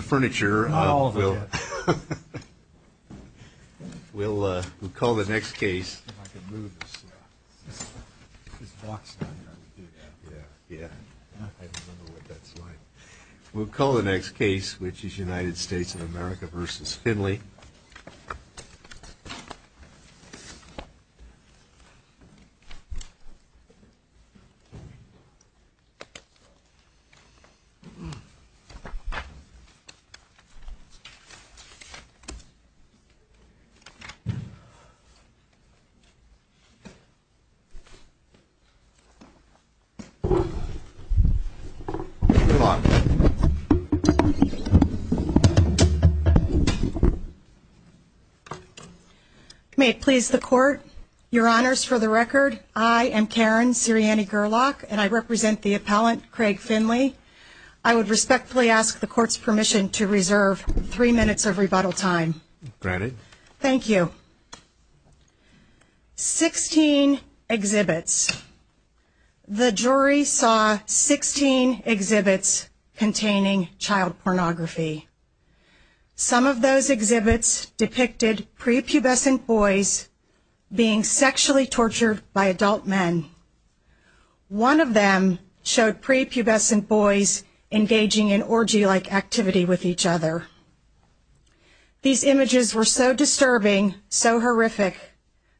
Furniture, we'll call the next case, we'll call the next case, which is United States of America versus Finley. May it please the court, your honors, for the record, I am Karen Sirianni-Gurlock and I represent the appellant, Craig Finley. I would respectfully ask the court's permission to reserve three minutes of rebuttal time. Granted. Thank you. 16 exhibits. The jury saw 16 exhibits containing child pornography. Some of those exhibits depicted prepubescent boys being sexually tortured by adult men. One of them showed prepubescent boys engaging in orgy-like activity with each other. These images were so disturbing, so horrific,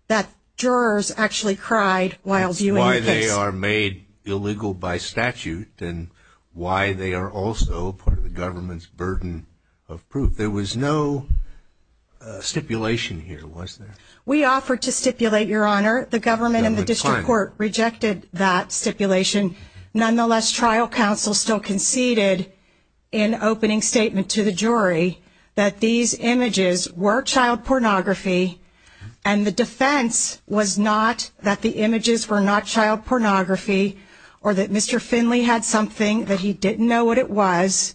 that jurors actually cried while viewing the case. That's why they are made illegal by statute and why they are also part of the government's burden of proof. There was no stipulation here, was there? We offered to stipulate, your honor, the government and the district court rejected that stipulation. Nonetheless, trial counsel still conceded in opening statement to the jury that these images were child pornography and the defense was not that the images were not child pornography or that Mr. Finley had something that he didn't know what it was.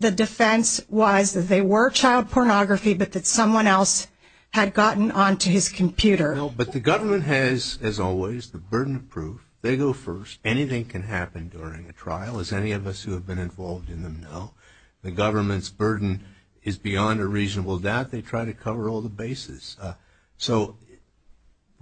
The defense was that they were child pornography, but that someone else had gotten onto his computer. But the government has, as always, the burden of proof. They go first. Anything can happen during a trial, as any of us who have been involved in them know. The government's burden is beyond a reasonable doubt. They try to cover all the bases. So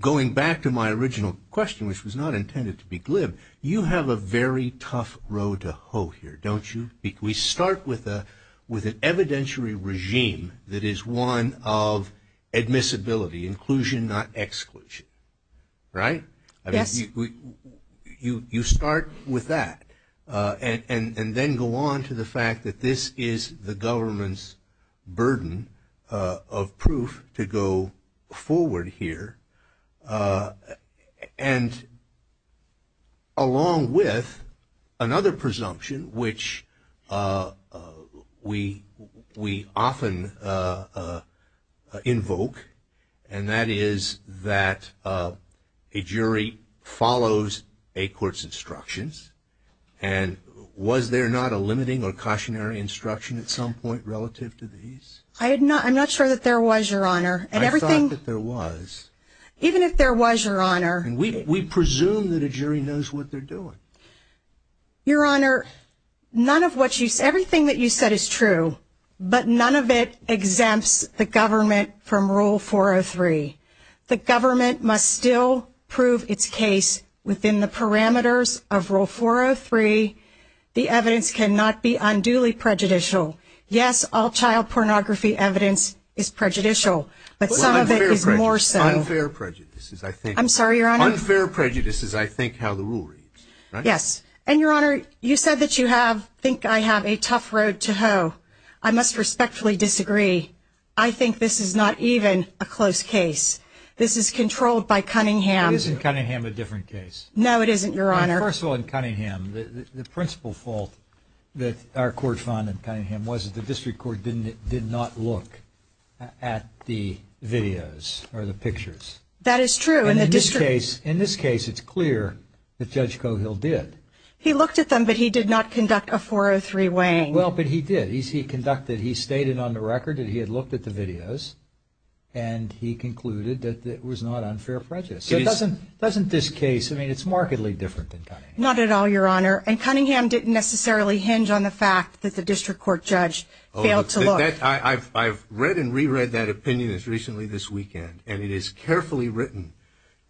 going back to my original question, which was not intended to be glib, you have a very tough road to hoe here, don't you? We start with an evidentiary regime that is one of admissibility, inclusion, not exclusion, right? Yes. You start with that and then go on to the fact that this is the government's burden of proof to go forward here. And along with another presumption, which we often invoke, and that is that a jury follows a court's instructions. And was there not a limiting or cautionary instruction at some point relative to these? I'm not sure that there was, Your Honor. I thought that there was. Even if there was, Your Honor. We presume that a jury knows what they're doing. Your Honor, everything that you said is true, but none of it exempts the government from Rule 403. The government must still prove its case within the parameters of Rule 403. The evidence cannot be unduly prejudicial. Yes, all child pornography evidence is prejudicial, but some of it is more so. Unfair prejudice is, I think. I'm sorry, Your Honor. Unfair prejudice is, I think, how the rule reads, right? Yes. And, Your Honor, you said that you think I have a tough road to hoe. I must respectfully disagree. I think this is not even a close case. This is controlled by Cunningham. Isn't Cunningham a different case? No, it isn't, Your Honor. First of all, in Cunningham, the principal fault that our court found in Cunningham was that the district court did not look at the videos or the pictures. That is true. In this case, it's clear that Judge Cogill did. He looked at them, but he did not conduct a 403 weighing. Well, but he did. He stated on the record that he had looked at the videos, and he concluded that it was not unfair prejudice. Doesn't this case, I mean, it's markedly different than Cunningham. Not at all, Your Honor. And Cunningham didn't necessarily hinge on the fact that the district court judge failed to look. I've read and reread that opinion as recently this weekend, and it is carefully written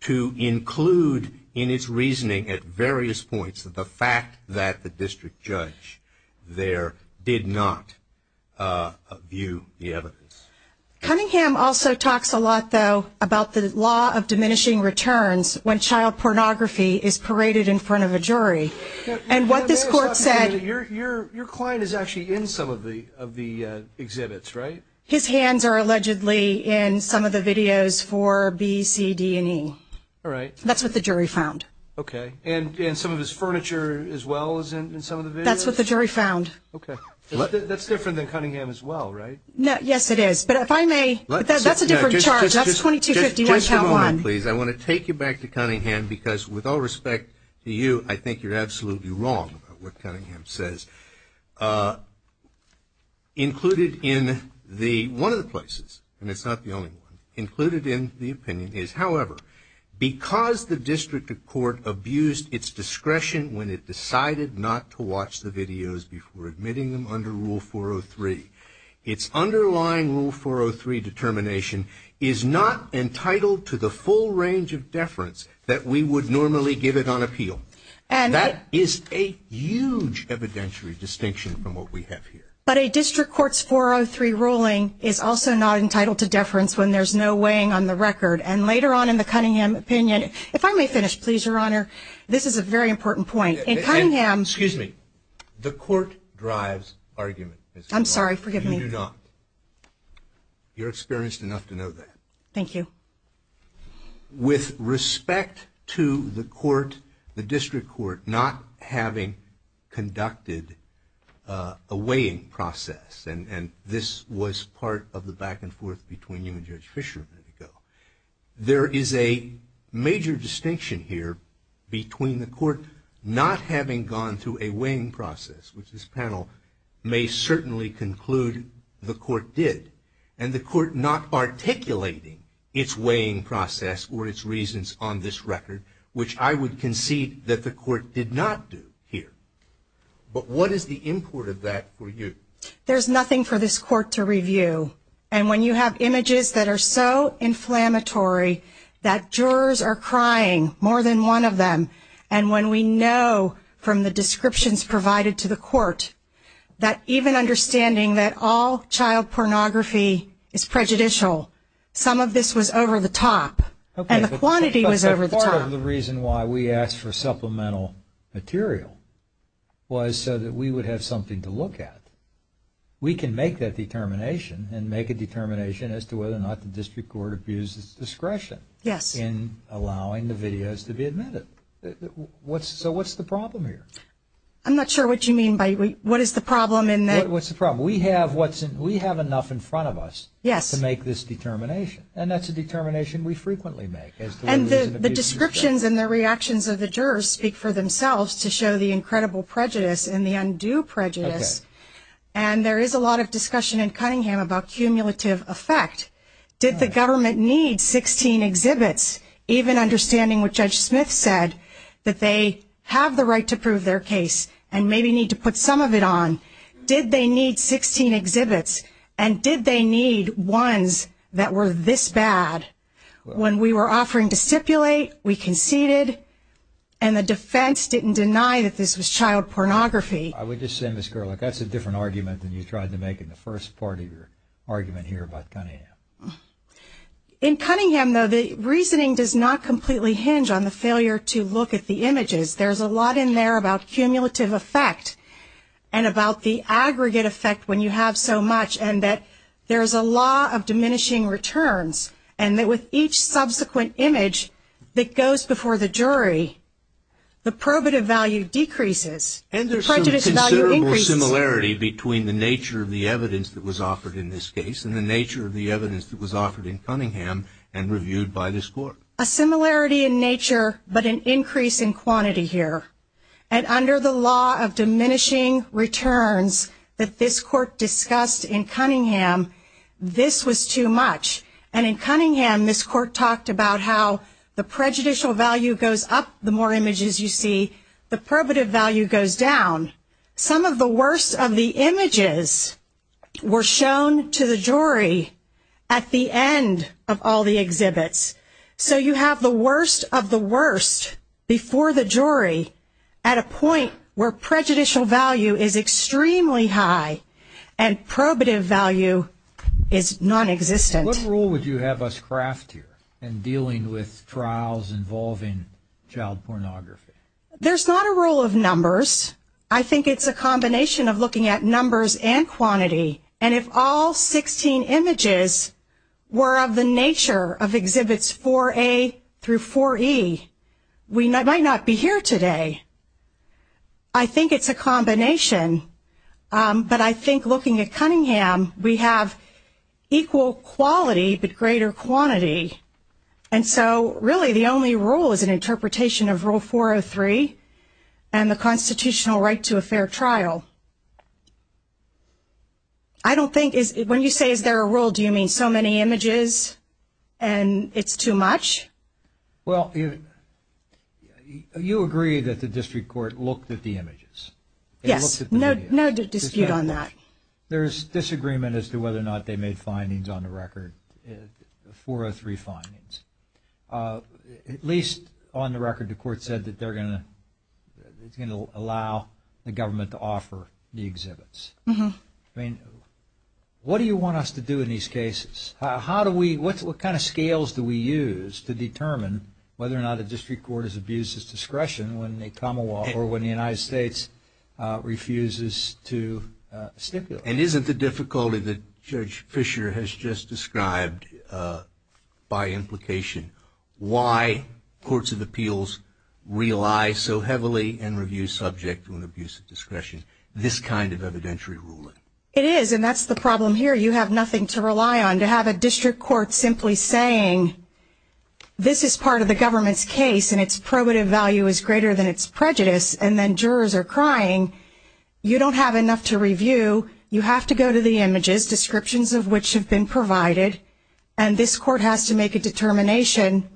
to include in its reasoning at various points that the fact that the district judge there did not view the evidence. Cunningham also talks a lot, though, about the law of diminishing returns when child pornography is paraded in front of a jury. And what this court said – Your client is actually in some of the exhibits, right? His hands are allegedly in some of the videos for B, C, D, and E. All right. That's what the jury found. Okay. And some of his furniture as well is in some of the videos? That's what the jury found. Okay. That's different than Cunningham as well, right? Yes, it is. But if I may – that's a different charge. That's 2251, child one. Just a moment, please. I want to take you back to Cunningham because, with all respect to you, I think you're absolutely wrong about what Cunningham says. Included in the – one of the places, and it's not the only one, included in the opinion is, however, because the district court abused its discretion when it decided not to watch the videos before admitting them under Rule 403, its underlying Rule 403 determination is not entitled to the full range of deference that we would normally give it on appeal. That is a huge evidentiary distinction from what we have here. But a district court's 403 ruling is also not entitled to deference when there's no weighing on the record. And later on in the Cunningham opinion – if I may finish, please, Your Honor. This is a very important point. In Cunningham – Excuse me. The court drives argument. I'm sorry. Forgive me. You do not. You're experienced enough to know that. Thank you. With respect to the court, the district court, not having conducted a weighing process, and this was part of the back and forth between you and Judge Fischer a minute ago, there is a major distinction here between the court not having gone through a weighing process, which this panel may certainly conclude the court did, and the court not articulating its weighing process or its reasons on this record, which I would concede that the court did not do here. But what is the import of that for you? There's nothing for this court to review. And when you have images that are so inflammatory that jurors are crying, more than one of them, and when we know from the descriptions provided to the court that even understanding that all child pornography is prejudicial, some of this was over the top and the quantity was over the top. Part of the reason why we asked for supplemental material was so that we would have something to look at. We can make that determination and make a determination as to whether or not the district court abuses discretion in allowing the videos to be admitted. So what's the problem here? I'm not sure what you mean by what is the problem in that. What's the problem? We have enough in front of us to make this determination, and that's a determination we frequently make. And the descriptions and the reactions of the jurors speak for themselves to show the incredible prejudice and the undue prejudice, and there is a lot of discussion in Cunningham about cumulative effect. Did the government need 16 exhibits, even understanding what Judge Smith said, that they have the right to prove their case and maybe need to put some of it on? Did they need 16 exhibits, and did they need ones that were this bad? When we were offering to stipulate, we conceded, and the defense didn't deny that this was child pornography. I would just say, Ms. Gerlich, that's a different argument than you tried to make in the first part of your argument here about Cunningham. In Cunningham, though, the reasoning does not completely hinge on the failure to look at the images. There's a lot in there about cumulative effect and about the aggregate effect when you have so much, and that there's a law of diminishing returns, and that with each subsequent image that goes before the jury, the probative value decreases. And there's considerable similarity between the nature of the evidence that was offered in this case and the nature of the evidence that was offered in Cunningham and reviewed by this court. A similarity in nature, but an increase in quantity here. And under the law of diminishing returns that this court discussed in Cunningham, this was too much. And in Cunningham, this court talked about how the prejudicial value goes up the more images you see, the probative value goes down. Some of the worst of the images were shown to the jury at the end of all the exhibits. So you have the worst of the worst before the jury at a point where prejudicial value is extremely high and probative value is nonexistent. What role would you have us craft here in dealing with trials involving child pornography? There's not a role of numbers. I think it's a combination of looking at numbers and quantity. And if all 16 images were of the nature of exhibits 4A through 4E, we might not be here today. I think it's a combination. But I think looking at Cunningham, we have equal quality but greater quantity. And so really the only role is an interpretation of Rule 403 and the constitutional right to a fair trial. When you say is there a role, do you mean so many images and it's too much? Well, you agree that the district court looked at the images. Yes, no dispute on that. There's disagreement as to whether or not they made findings on the record, 403 findings. At least on the record the court said that they're going to allow the government to offer the exhibits. I mean, what do you want us to do in these cases? What kind of scales do we use to determine whether or not a district court is abused at discretion when the Commonwealth or when the United States refuses to stipulate? And isn't the difficulty that Judge Fischer has just described by implication why courts of appeals rely so heavily and review subject to an abuse of discretion, this kind of evidentiary ruling? It is, and that's the problem here. You have nothing to rely on. To have a district court simply saying this is part of the government's case and its probative value is greater than its prejudice and then jurors are crying, you don't have enough to review. You have to go to the images, descriptions of which have been provided, and this court has to make a determination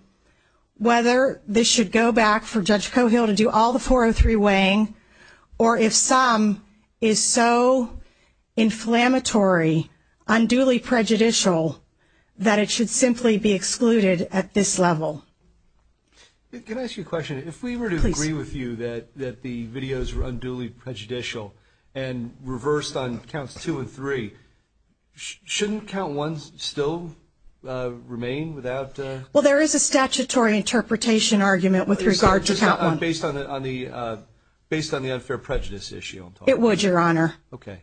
whether this should go back for Judge Cohill to do all the 403 weighing or if some is so inflammatory, unduly prejudicial, that it should simply be excluded at this level. Can I ask you a question? If we were to agree with you that the videos were unduly prejudicial and reversed on counts two and three, shouldn't count ones still remain without? Well, there is a statutory interpretation argument with regard to count one. Based on the unfair prejudice issue? It would, Your Honor.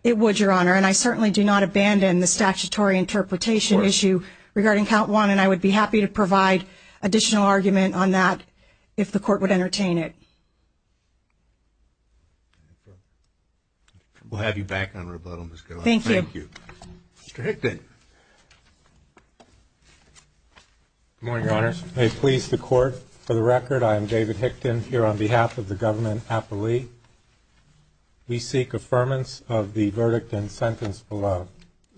It would, Your Honor, and I certainly do not abandon the statutory interpretation issue regarding count one, and I would be happy to provide additional argument on that if the court would entertain it. We'll have you back on rebuttal, Ms. Cohen. Thank you. Thank you. Mr. Hickton. Good morning, Your Honor. May it please the Court. For the record, I am David Hickton here on behalf of the government appellee. We seek affirmance of the verdict and sentence below.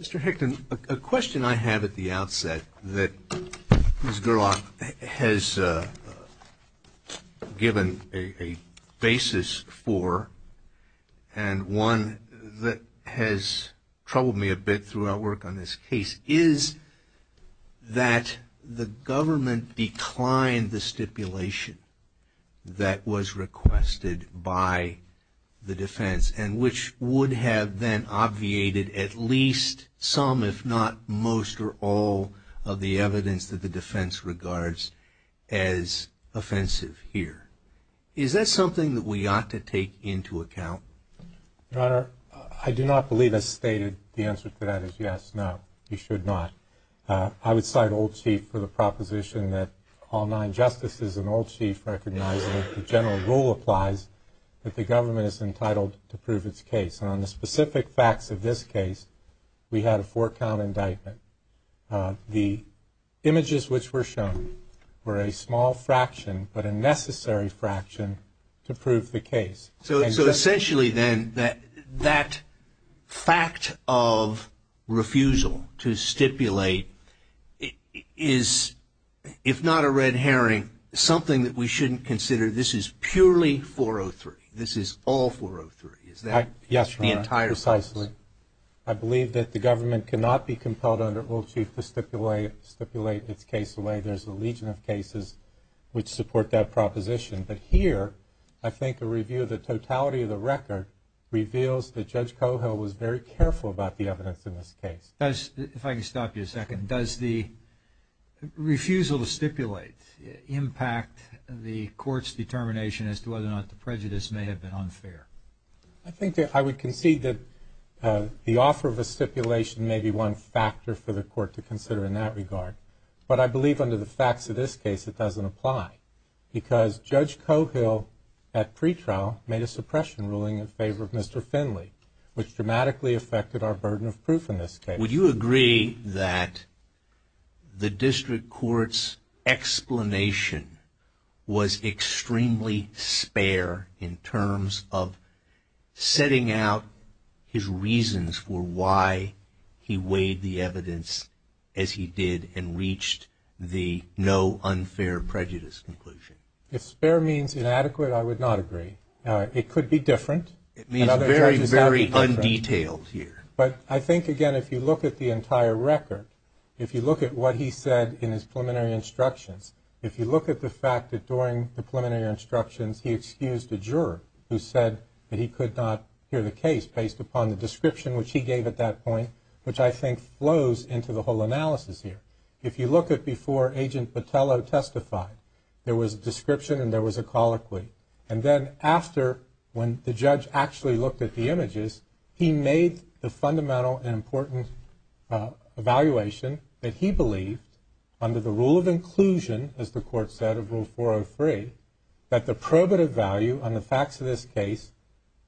Mr. Hickton, a question I have at the outset that Ms. Gerlach has given a basis for and one that has troubled me a bit throughout work on this case is that the government declined the stipulation that was requested by the defense and which would have then obviated at least some, if not most, or all of the evidence that the defense regards as offensive here. Is that something that we ought to take into account? Your Honor, I do not believe as stated the answer to that is yes, no. You should not. I would cite Old Chief for the proposition that all nine justices and Old Chief recognizing that the general rule applies that the government is entitled to prove its case. And on the specific facts of this case, we had a four-count indictment. The images which were shown were a small fraction but a necessary fraction to prove the case. So essentially then that fact of refusal to stipulate is, if not a red herring, something that we shouldn't consider. This is purely 403. This is all 403. Yes, Your Honor. Precisely. I believe that the government cannot be compelled under Old Chief to stipulate its case away. There's a legion of cases which support that proposition. But here, I think a review of the totality of the record reveals that Judge Cohill was very careful about the evidence in this case. If I can stop you a second, does the refusal to stipulate impact the court's determination as to whether or not the prejudice may have been unfair? I would concede that the offer of a stipulation may be one factor for the court to consider in that regard. But I believe under the facts of this case it doesn't apply because Judge Cohill at pretrial made a suppression ruling in favor of Mr. Finley, which dramatically affected our burden of proof in this case. Would you agree that the district court's explanation was extremely spare in terms of setting out his reasons for why he weighed the evidence as he did and reached the no unfair prejudice conclusion? If spare means inadequate, I would not agree. It could be different. It means very, very undetailed here. But I think, again, if you look at the entire record, if you look at what he said in his preliminary instructions, if you look at the fact that during the preliminary instructions he excused a juror who said that he could not hear the case based upon the description which he gave at that point, which I think flows into the whole analysis here. If you look at before Agent Botello testified, there was a description and there was a colloquy. And then after when the judge actually looked at the images, he made the fundamental and important evaluation that he believed under the rule of inclusion, as the court said, of Rule 403, that the probative value on the facts of this case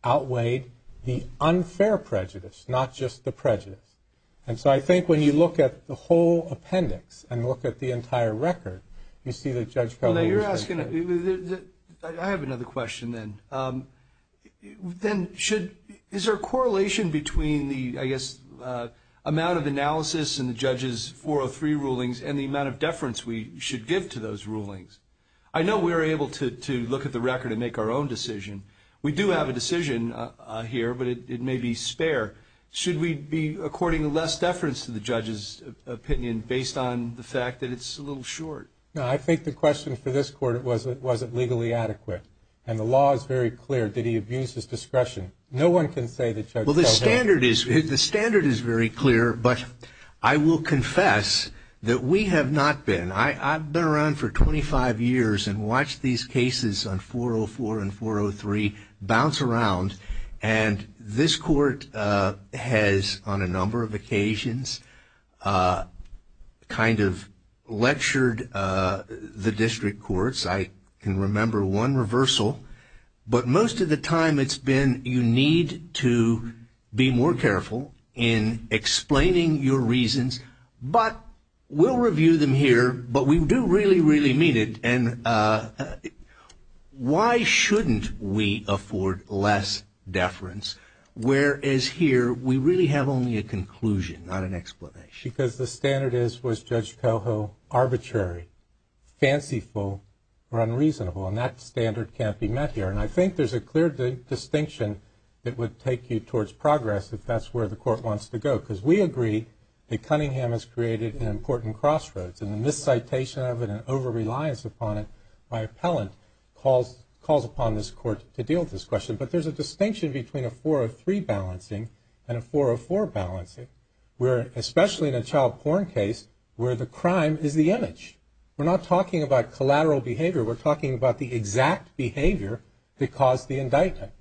outweighed the unfair prejudice, not just the prejudice. And so I think when you look at the whole appendix and look at the entire record, you see that Judge Pelley was right. I have another question then. Is there a correlation between the, I guess, amount of analysis in the judge's 403 rulings and the amount of deference we should give to those rulings? I know we're able to look at the record and make our own decision. We do have a decision here, but it may be spare. Should we be according less deference to the judge's opinion based on the fact that it's a little short? No, I think the question for this court was, was it legally adequate? And the law is very clear that he abused his discretion. No one can say that Judge Pelley. Well, the standard is very clear, but I will confess that we have not been. I've been around for 25 years and watched these cases on 404 and 403 bounce around. And this court has, on a number of occasions, kind of lectured the district courts. I can remember one reversal. But most of the time it's been you need to be more careful in explaining your reasons. But we'll review them here. But we do really, really mean it. And why shouldn't we afford less deference, whereas here we really have only a conclusion, not an explanation? Because the standard is, was Judge Pelho arbitrary, fanciful, or unreasonable? And that standard can't be met here. And I think there's a clear distinction that would take you towards progress if that's where the court wants to go. Because we agree that Cunningham has created an important crossroads. And the miscitation of it and over-reliance upon it by appellant calls upon this court to deal with this question. But there's a distinction between a 403 balancing and a 404 balancing, especially in a child porn case where the crime is the image. We're not talking about collateral behavior. We're talking about the exact behavior that caused the indictment.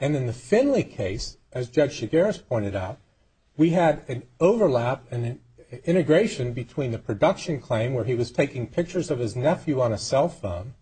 And in the Finley case, as Judge Chigares pointed out, we had an overlap and an integration between the production claim, where he was taking pictures of his nephew on a cell phone,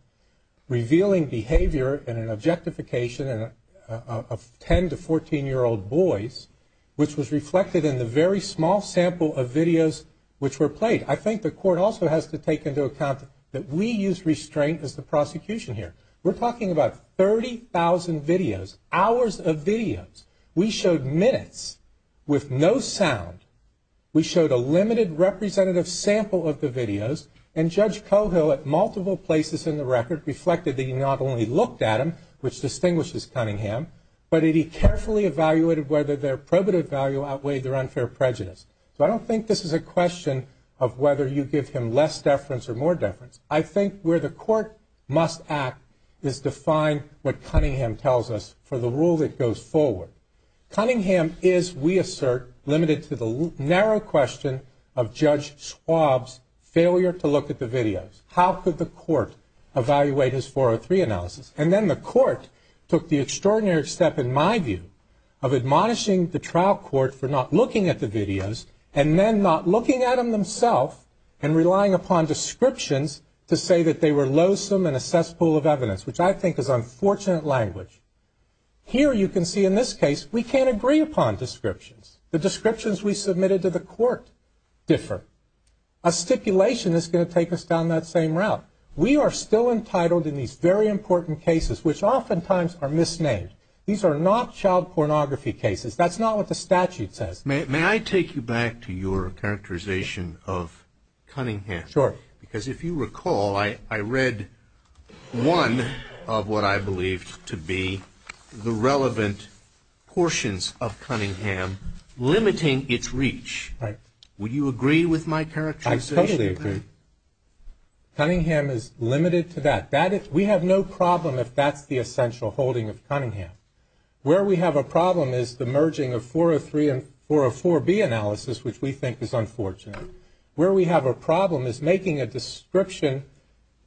revealing behavior and an objectification of 10 to 14-year-old boys, which was reflected in the very small sample of videos which were played. I think the court also has to take into account that we use restraint as the prosecution here. We're talking about 30,000 videos, hours of videos. We showed minutes with no sound. We showed a limited representative sample of the videos. And Judge Cohill at multiple places in the record reflected that he not only looked at them, which distinguishes Cunningham, but that he carefully evaluated whether their probative value outweighed their unfair prejudice. So I don't think this is a question of whether you give him less deference or more deference. I think where the court must act is to find what Cunningham tells us for the rule that goes forward. Cunningham is, we assert, limited to the narrow question of Judge Schwab's failure to look at the videos. How could the court evaluate his 403 analysis? And then the court took the extraordinary step, in my view, of admonishing the trial court for not looking at the videos, and then not looking at them themselves and relying upon descriptions to say that they were loathsome and a cesspool of evidence, which I think is unfortunate language. Here you can see in this case we can't agree upon descriptions. The descriptions we submitted to the court differ. A stipulation is going to take us down that same route. We are still entitled in these very important cases, which oftentimes are misnamed. These are not child pornography cases. That's not what the statute says. May I take you back to your characterization of Cunningham? Sure. Because if you recall, I read one of what I believed to be the relevant portions of Cunningham limiting its reach. Right. Would you agree with my characterization? I totally agree. Cunningham is limited to that. We have no problem if that's the essential holding of Cunningham. Where we have a problem is the merging of 403 and 404B analysis, which we think is unfortunate. Where we have a problem is making a description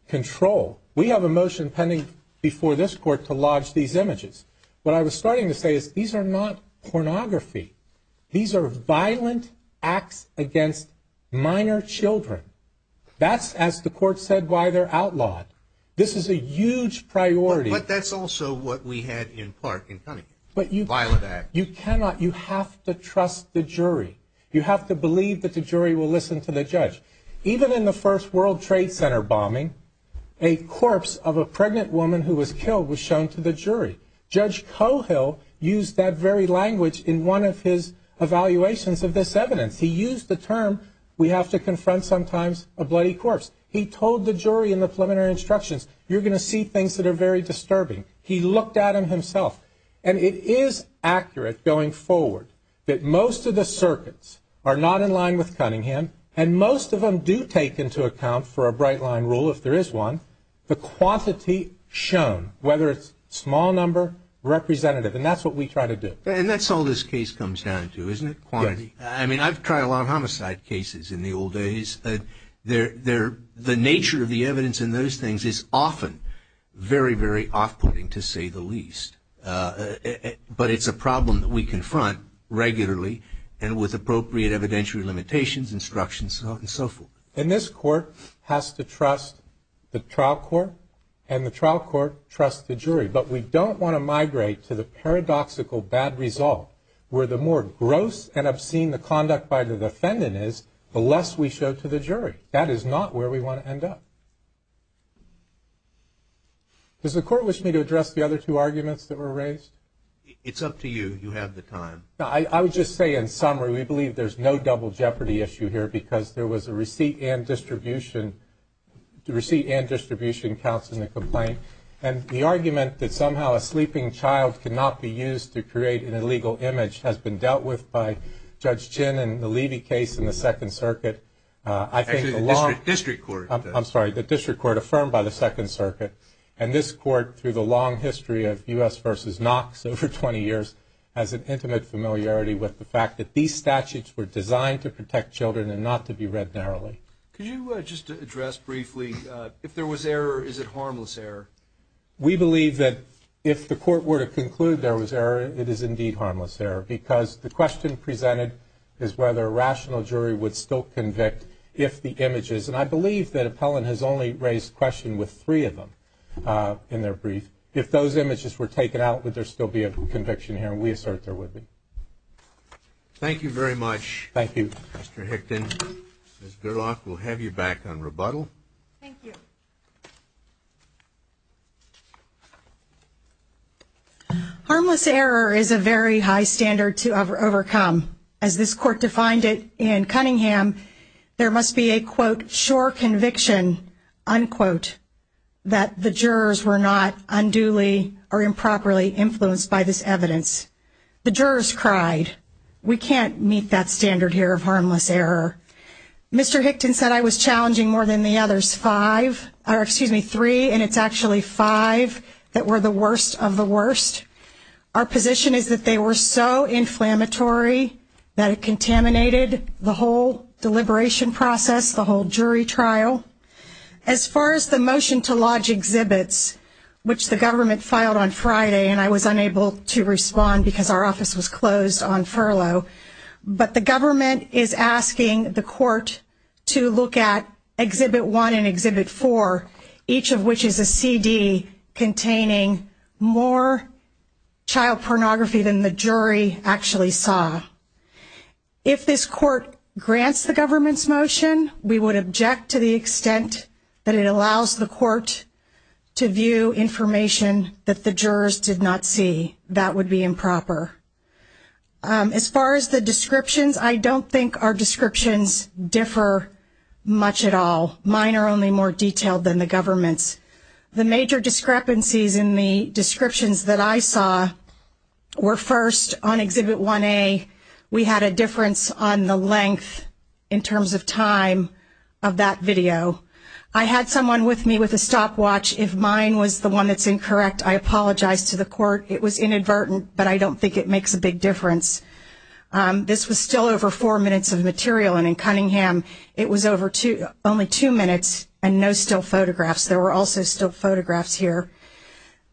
control. We have a motion pending before this court to lodge these images. What I was starting to say is these are not pornography. These are violent acts against minor children. That's, as the court said, why they're outlawed. This is a huge priority. But that's also what we had in part in Cunningham, violent acts. You cannot, you have to trust the jury. You have to believe that the jury will listen to the judge. Even in the first World Trade Center bombing, a corpse of a pregnant woman who was killed was shown to the jury. Judge Cohill used that very language in one of his evaluations of this evidence. He used the term, we have to confront sometimes a bloody corpse. He told the jury in the preliminary instructions, you're going to see things that are very disturbing. He looked at them himself. And it is accurate going forward that most of the circuits are not in line with Cunningham. And most of them do take into account for a bright line rule, if there is one, the quantity shown. Whether it's small number, representative. And that's what we try to do. And that's all this case comes down to, isn't it? Quantity. I mean, I've tried a lot of homicide cases in the old days. The nature of the evidence in those things is often very, very off-putting, to say the least. But it's a problem that we confront regularly and with appropriate evidentiary limitations, instructions, and so forth. And this court has to trust the trial court. And the trial court trusts the jury. But we don't want to migrate to the paradoxical bad result, where the more gross and obscene the conduct by the defendant is, the less we show to the jury. That is not where we want to end up. Does the court wish me to address the other two arguments that were raised? It's up to you. You have the time. I would just say, in summary, we believe there's no double jeopardy issue here, because there was a receipt and distribution. The receipt and distribution counts in the complaint. And the argument that somehow a sleeping child cannot be used to create an illegal image has been dealt with by Judge Chinn and the Levy case in the Second Circuit. Actually, the district court. I'm sorry, the district court affirmed by the Second Circuit. And this court, through the long history of U.S. versus Knox over 20 years, has an intimate familiarity with the fact that these statutes were designed to protect children and not to be read narrowly. Could you just address briefly, if there was error, is it harmless error? We believe that if the court were to conclude there was error, it is indeed harmless error, because the question presented is whether a rational jury would still convict if the images, and I believe that Appellant has only raised questions with three of them in their brief, if those images were taken out, would there still be a conviction here? And we assert there would be. Thank you very much, Mr. Hickton. Ms. Gerlach, we'll have you back on rebuttal. Thank you. Harmless error is a very high standard to overcome. As this court defined it in Cunningham, there must be a, quote, sure conviction, unquote, that the jurors were not unduly or improperly influenced by this evidence. The jurors cried, we can't meet that standard here of harmless error. Mr. Hickton said I was challenging more than the others five, or excuse me, three, and it's actually five that were the worst of the worst. Our position is that they were so inflammatory that it contaminated the whole deliberation process, the whole jury trial. As far as the motion to lodge exhibits, which the government filed on Friday, and I was unable to respond because our office was closed on furlough, but the government is asking the court to look at Exhibit 1 and Exhibit 4, each of which is a CD containing more child pornography than the jury actually saw. If this court grants the government's motion, we would object to the extent that it allows the court to view information that the jurors did not see. That would be improper. As far as the descriptions, I don't think our descriptions differ much at all. Mine are only more detailed than the government's. The major discrepancies in the descriptions that I saw were, first, on Exhibit 1A, we had a difference on the length in terms of time of that video. I had someone with me with a stopwatch. If mine was the one that's incorrect, I apologize to the court. It was inadvertent, but I don't think it makes a big difference. This was still over four minutes of material, and in Cunningham it was only two minutes and no still photographs. There were also still photographs here.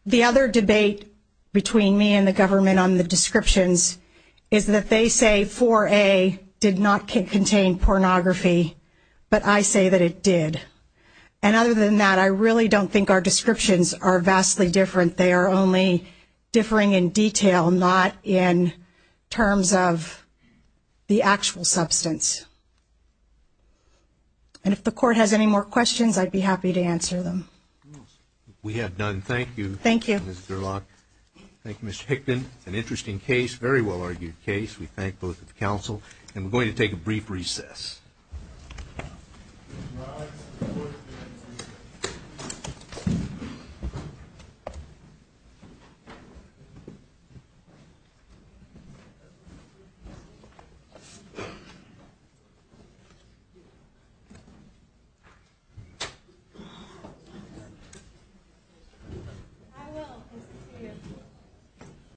The other debate between me and the government on the descriptions is that they say 4A did not contain pornography, but I say that it did. And other than that, I really don't think our descriptions are vastly different. They are only differing in detail, not in terms of the actual substance. And if the court has any more questions, I'd be happy to answer them. We have none. Thank you. Thank you. Thank you, Mr. Hickman. An interesting case, very well-argued case. We thank both of the counsel, and we're going to take a brief recess.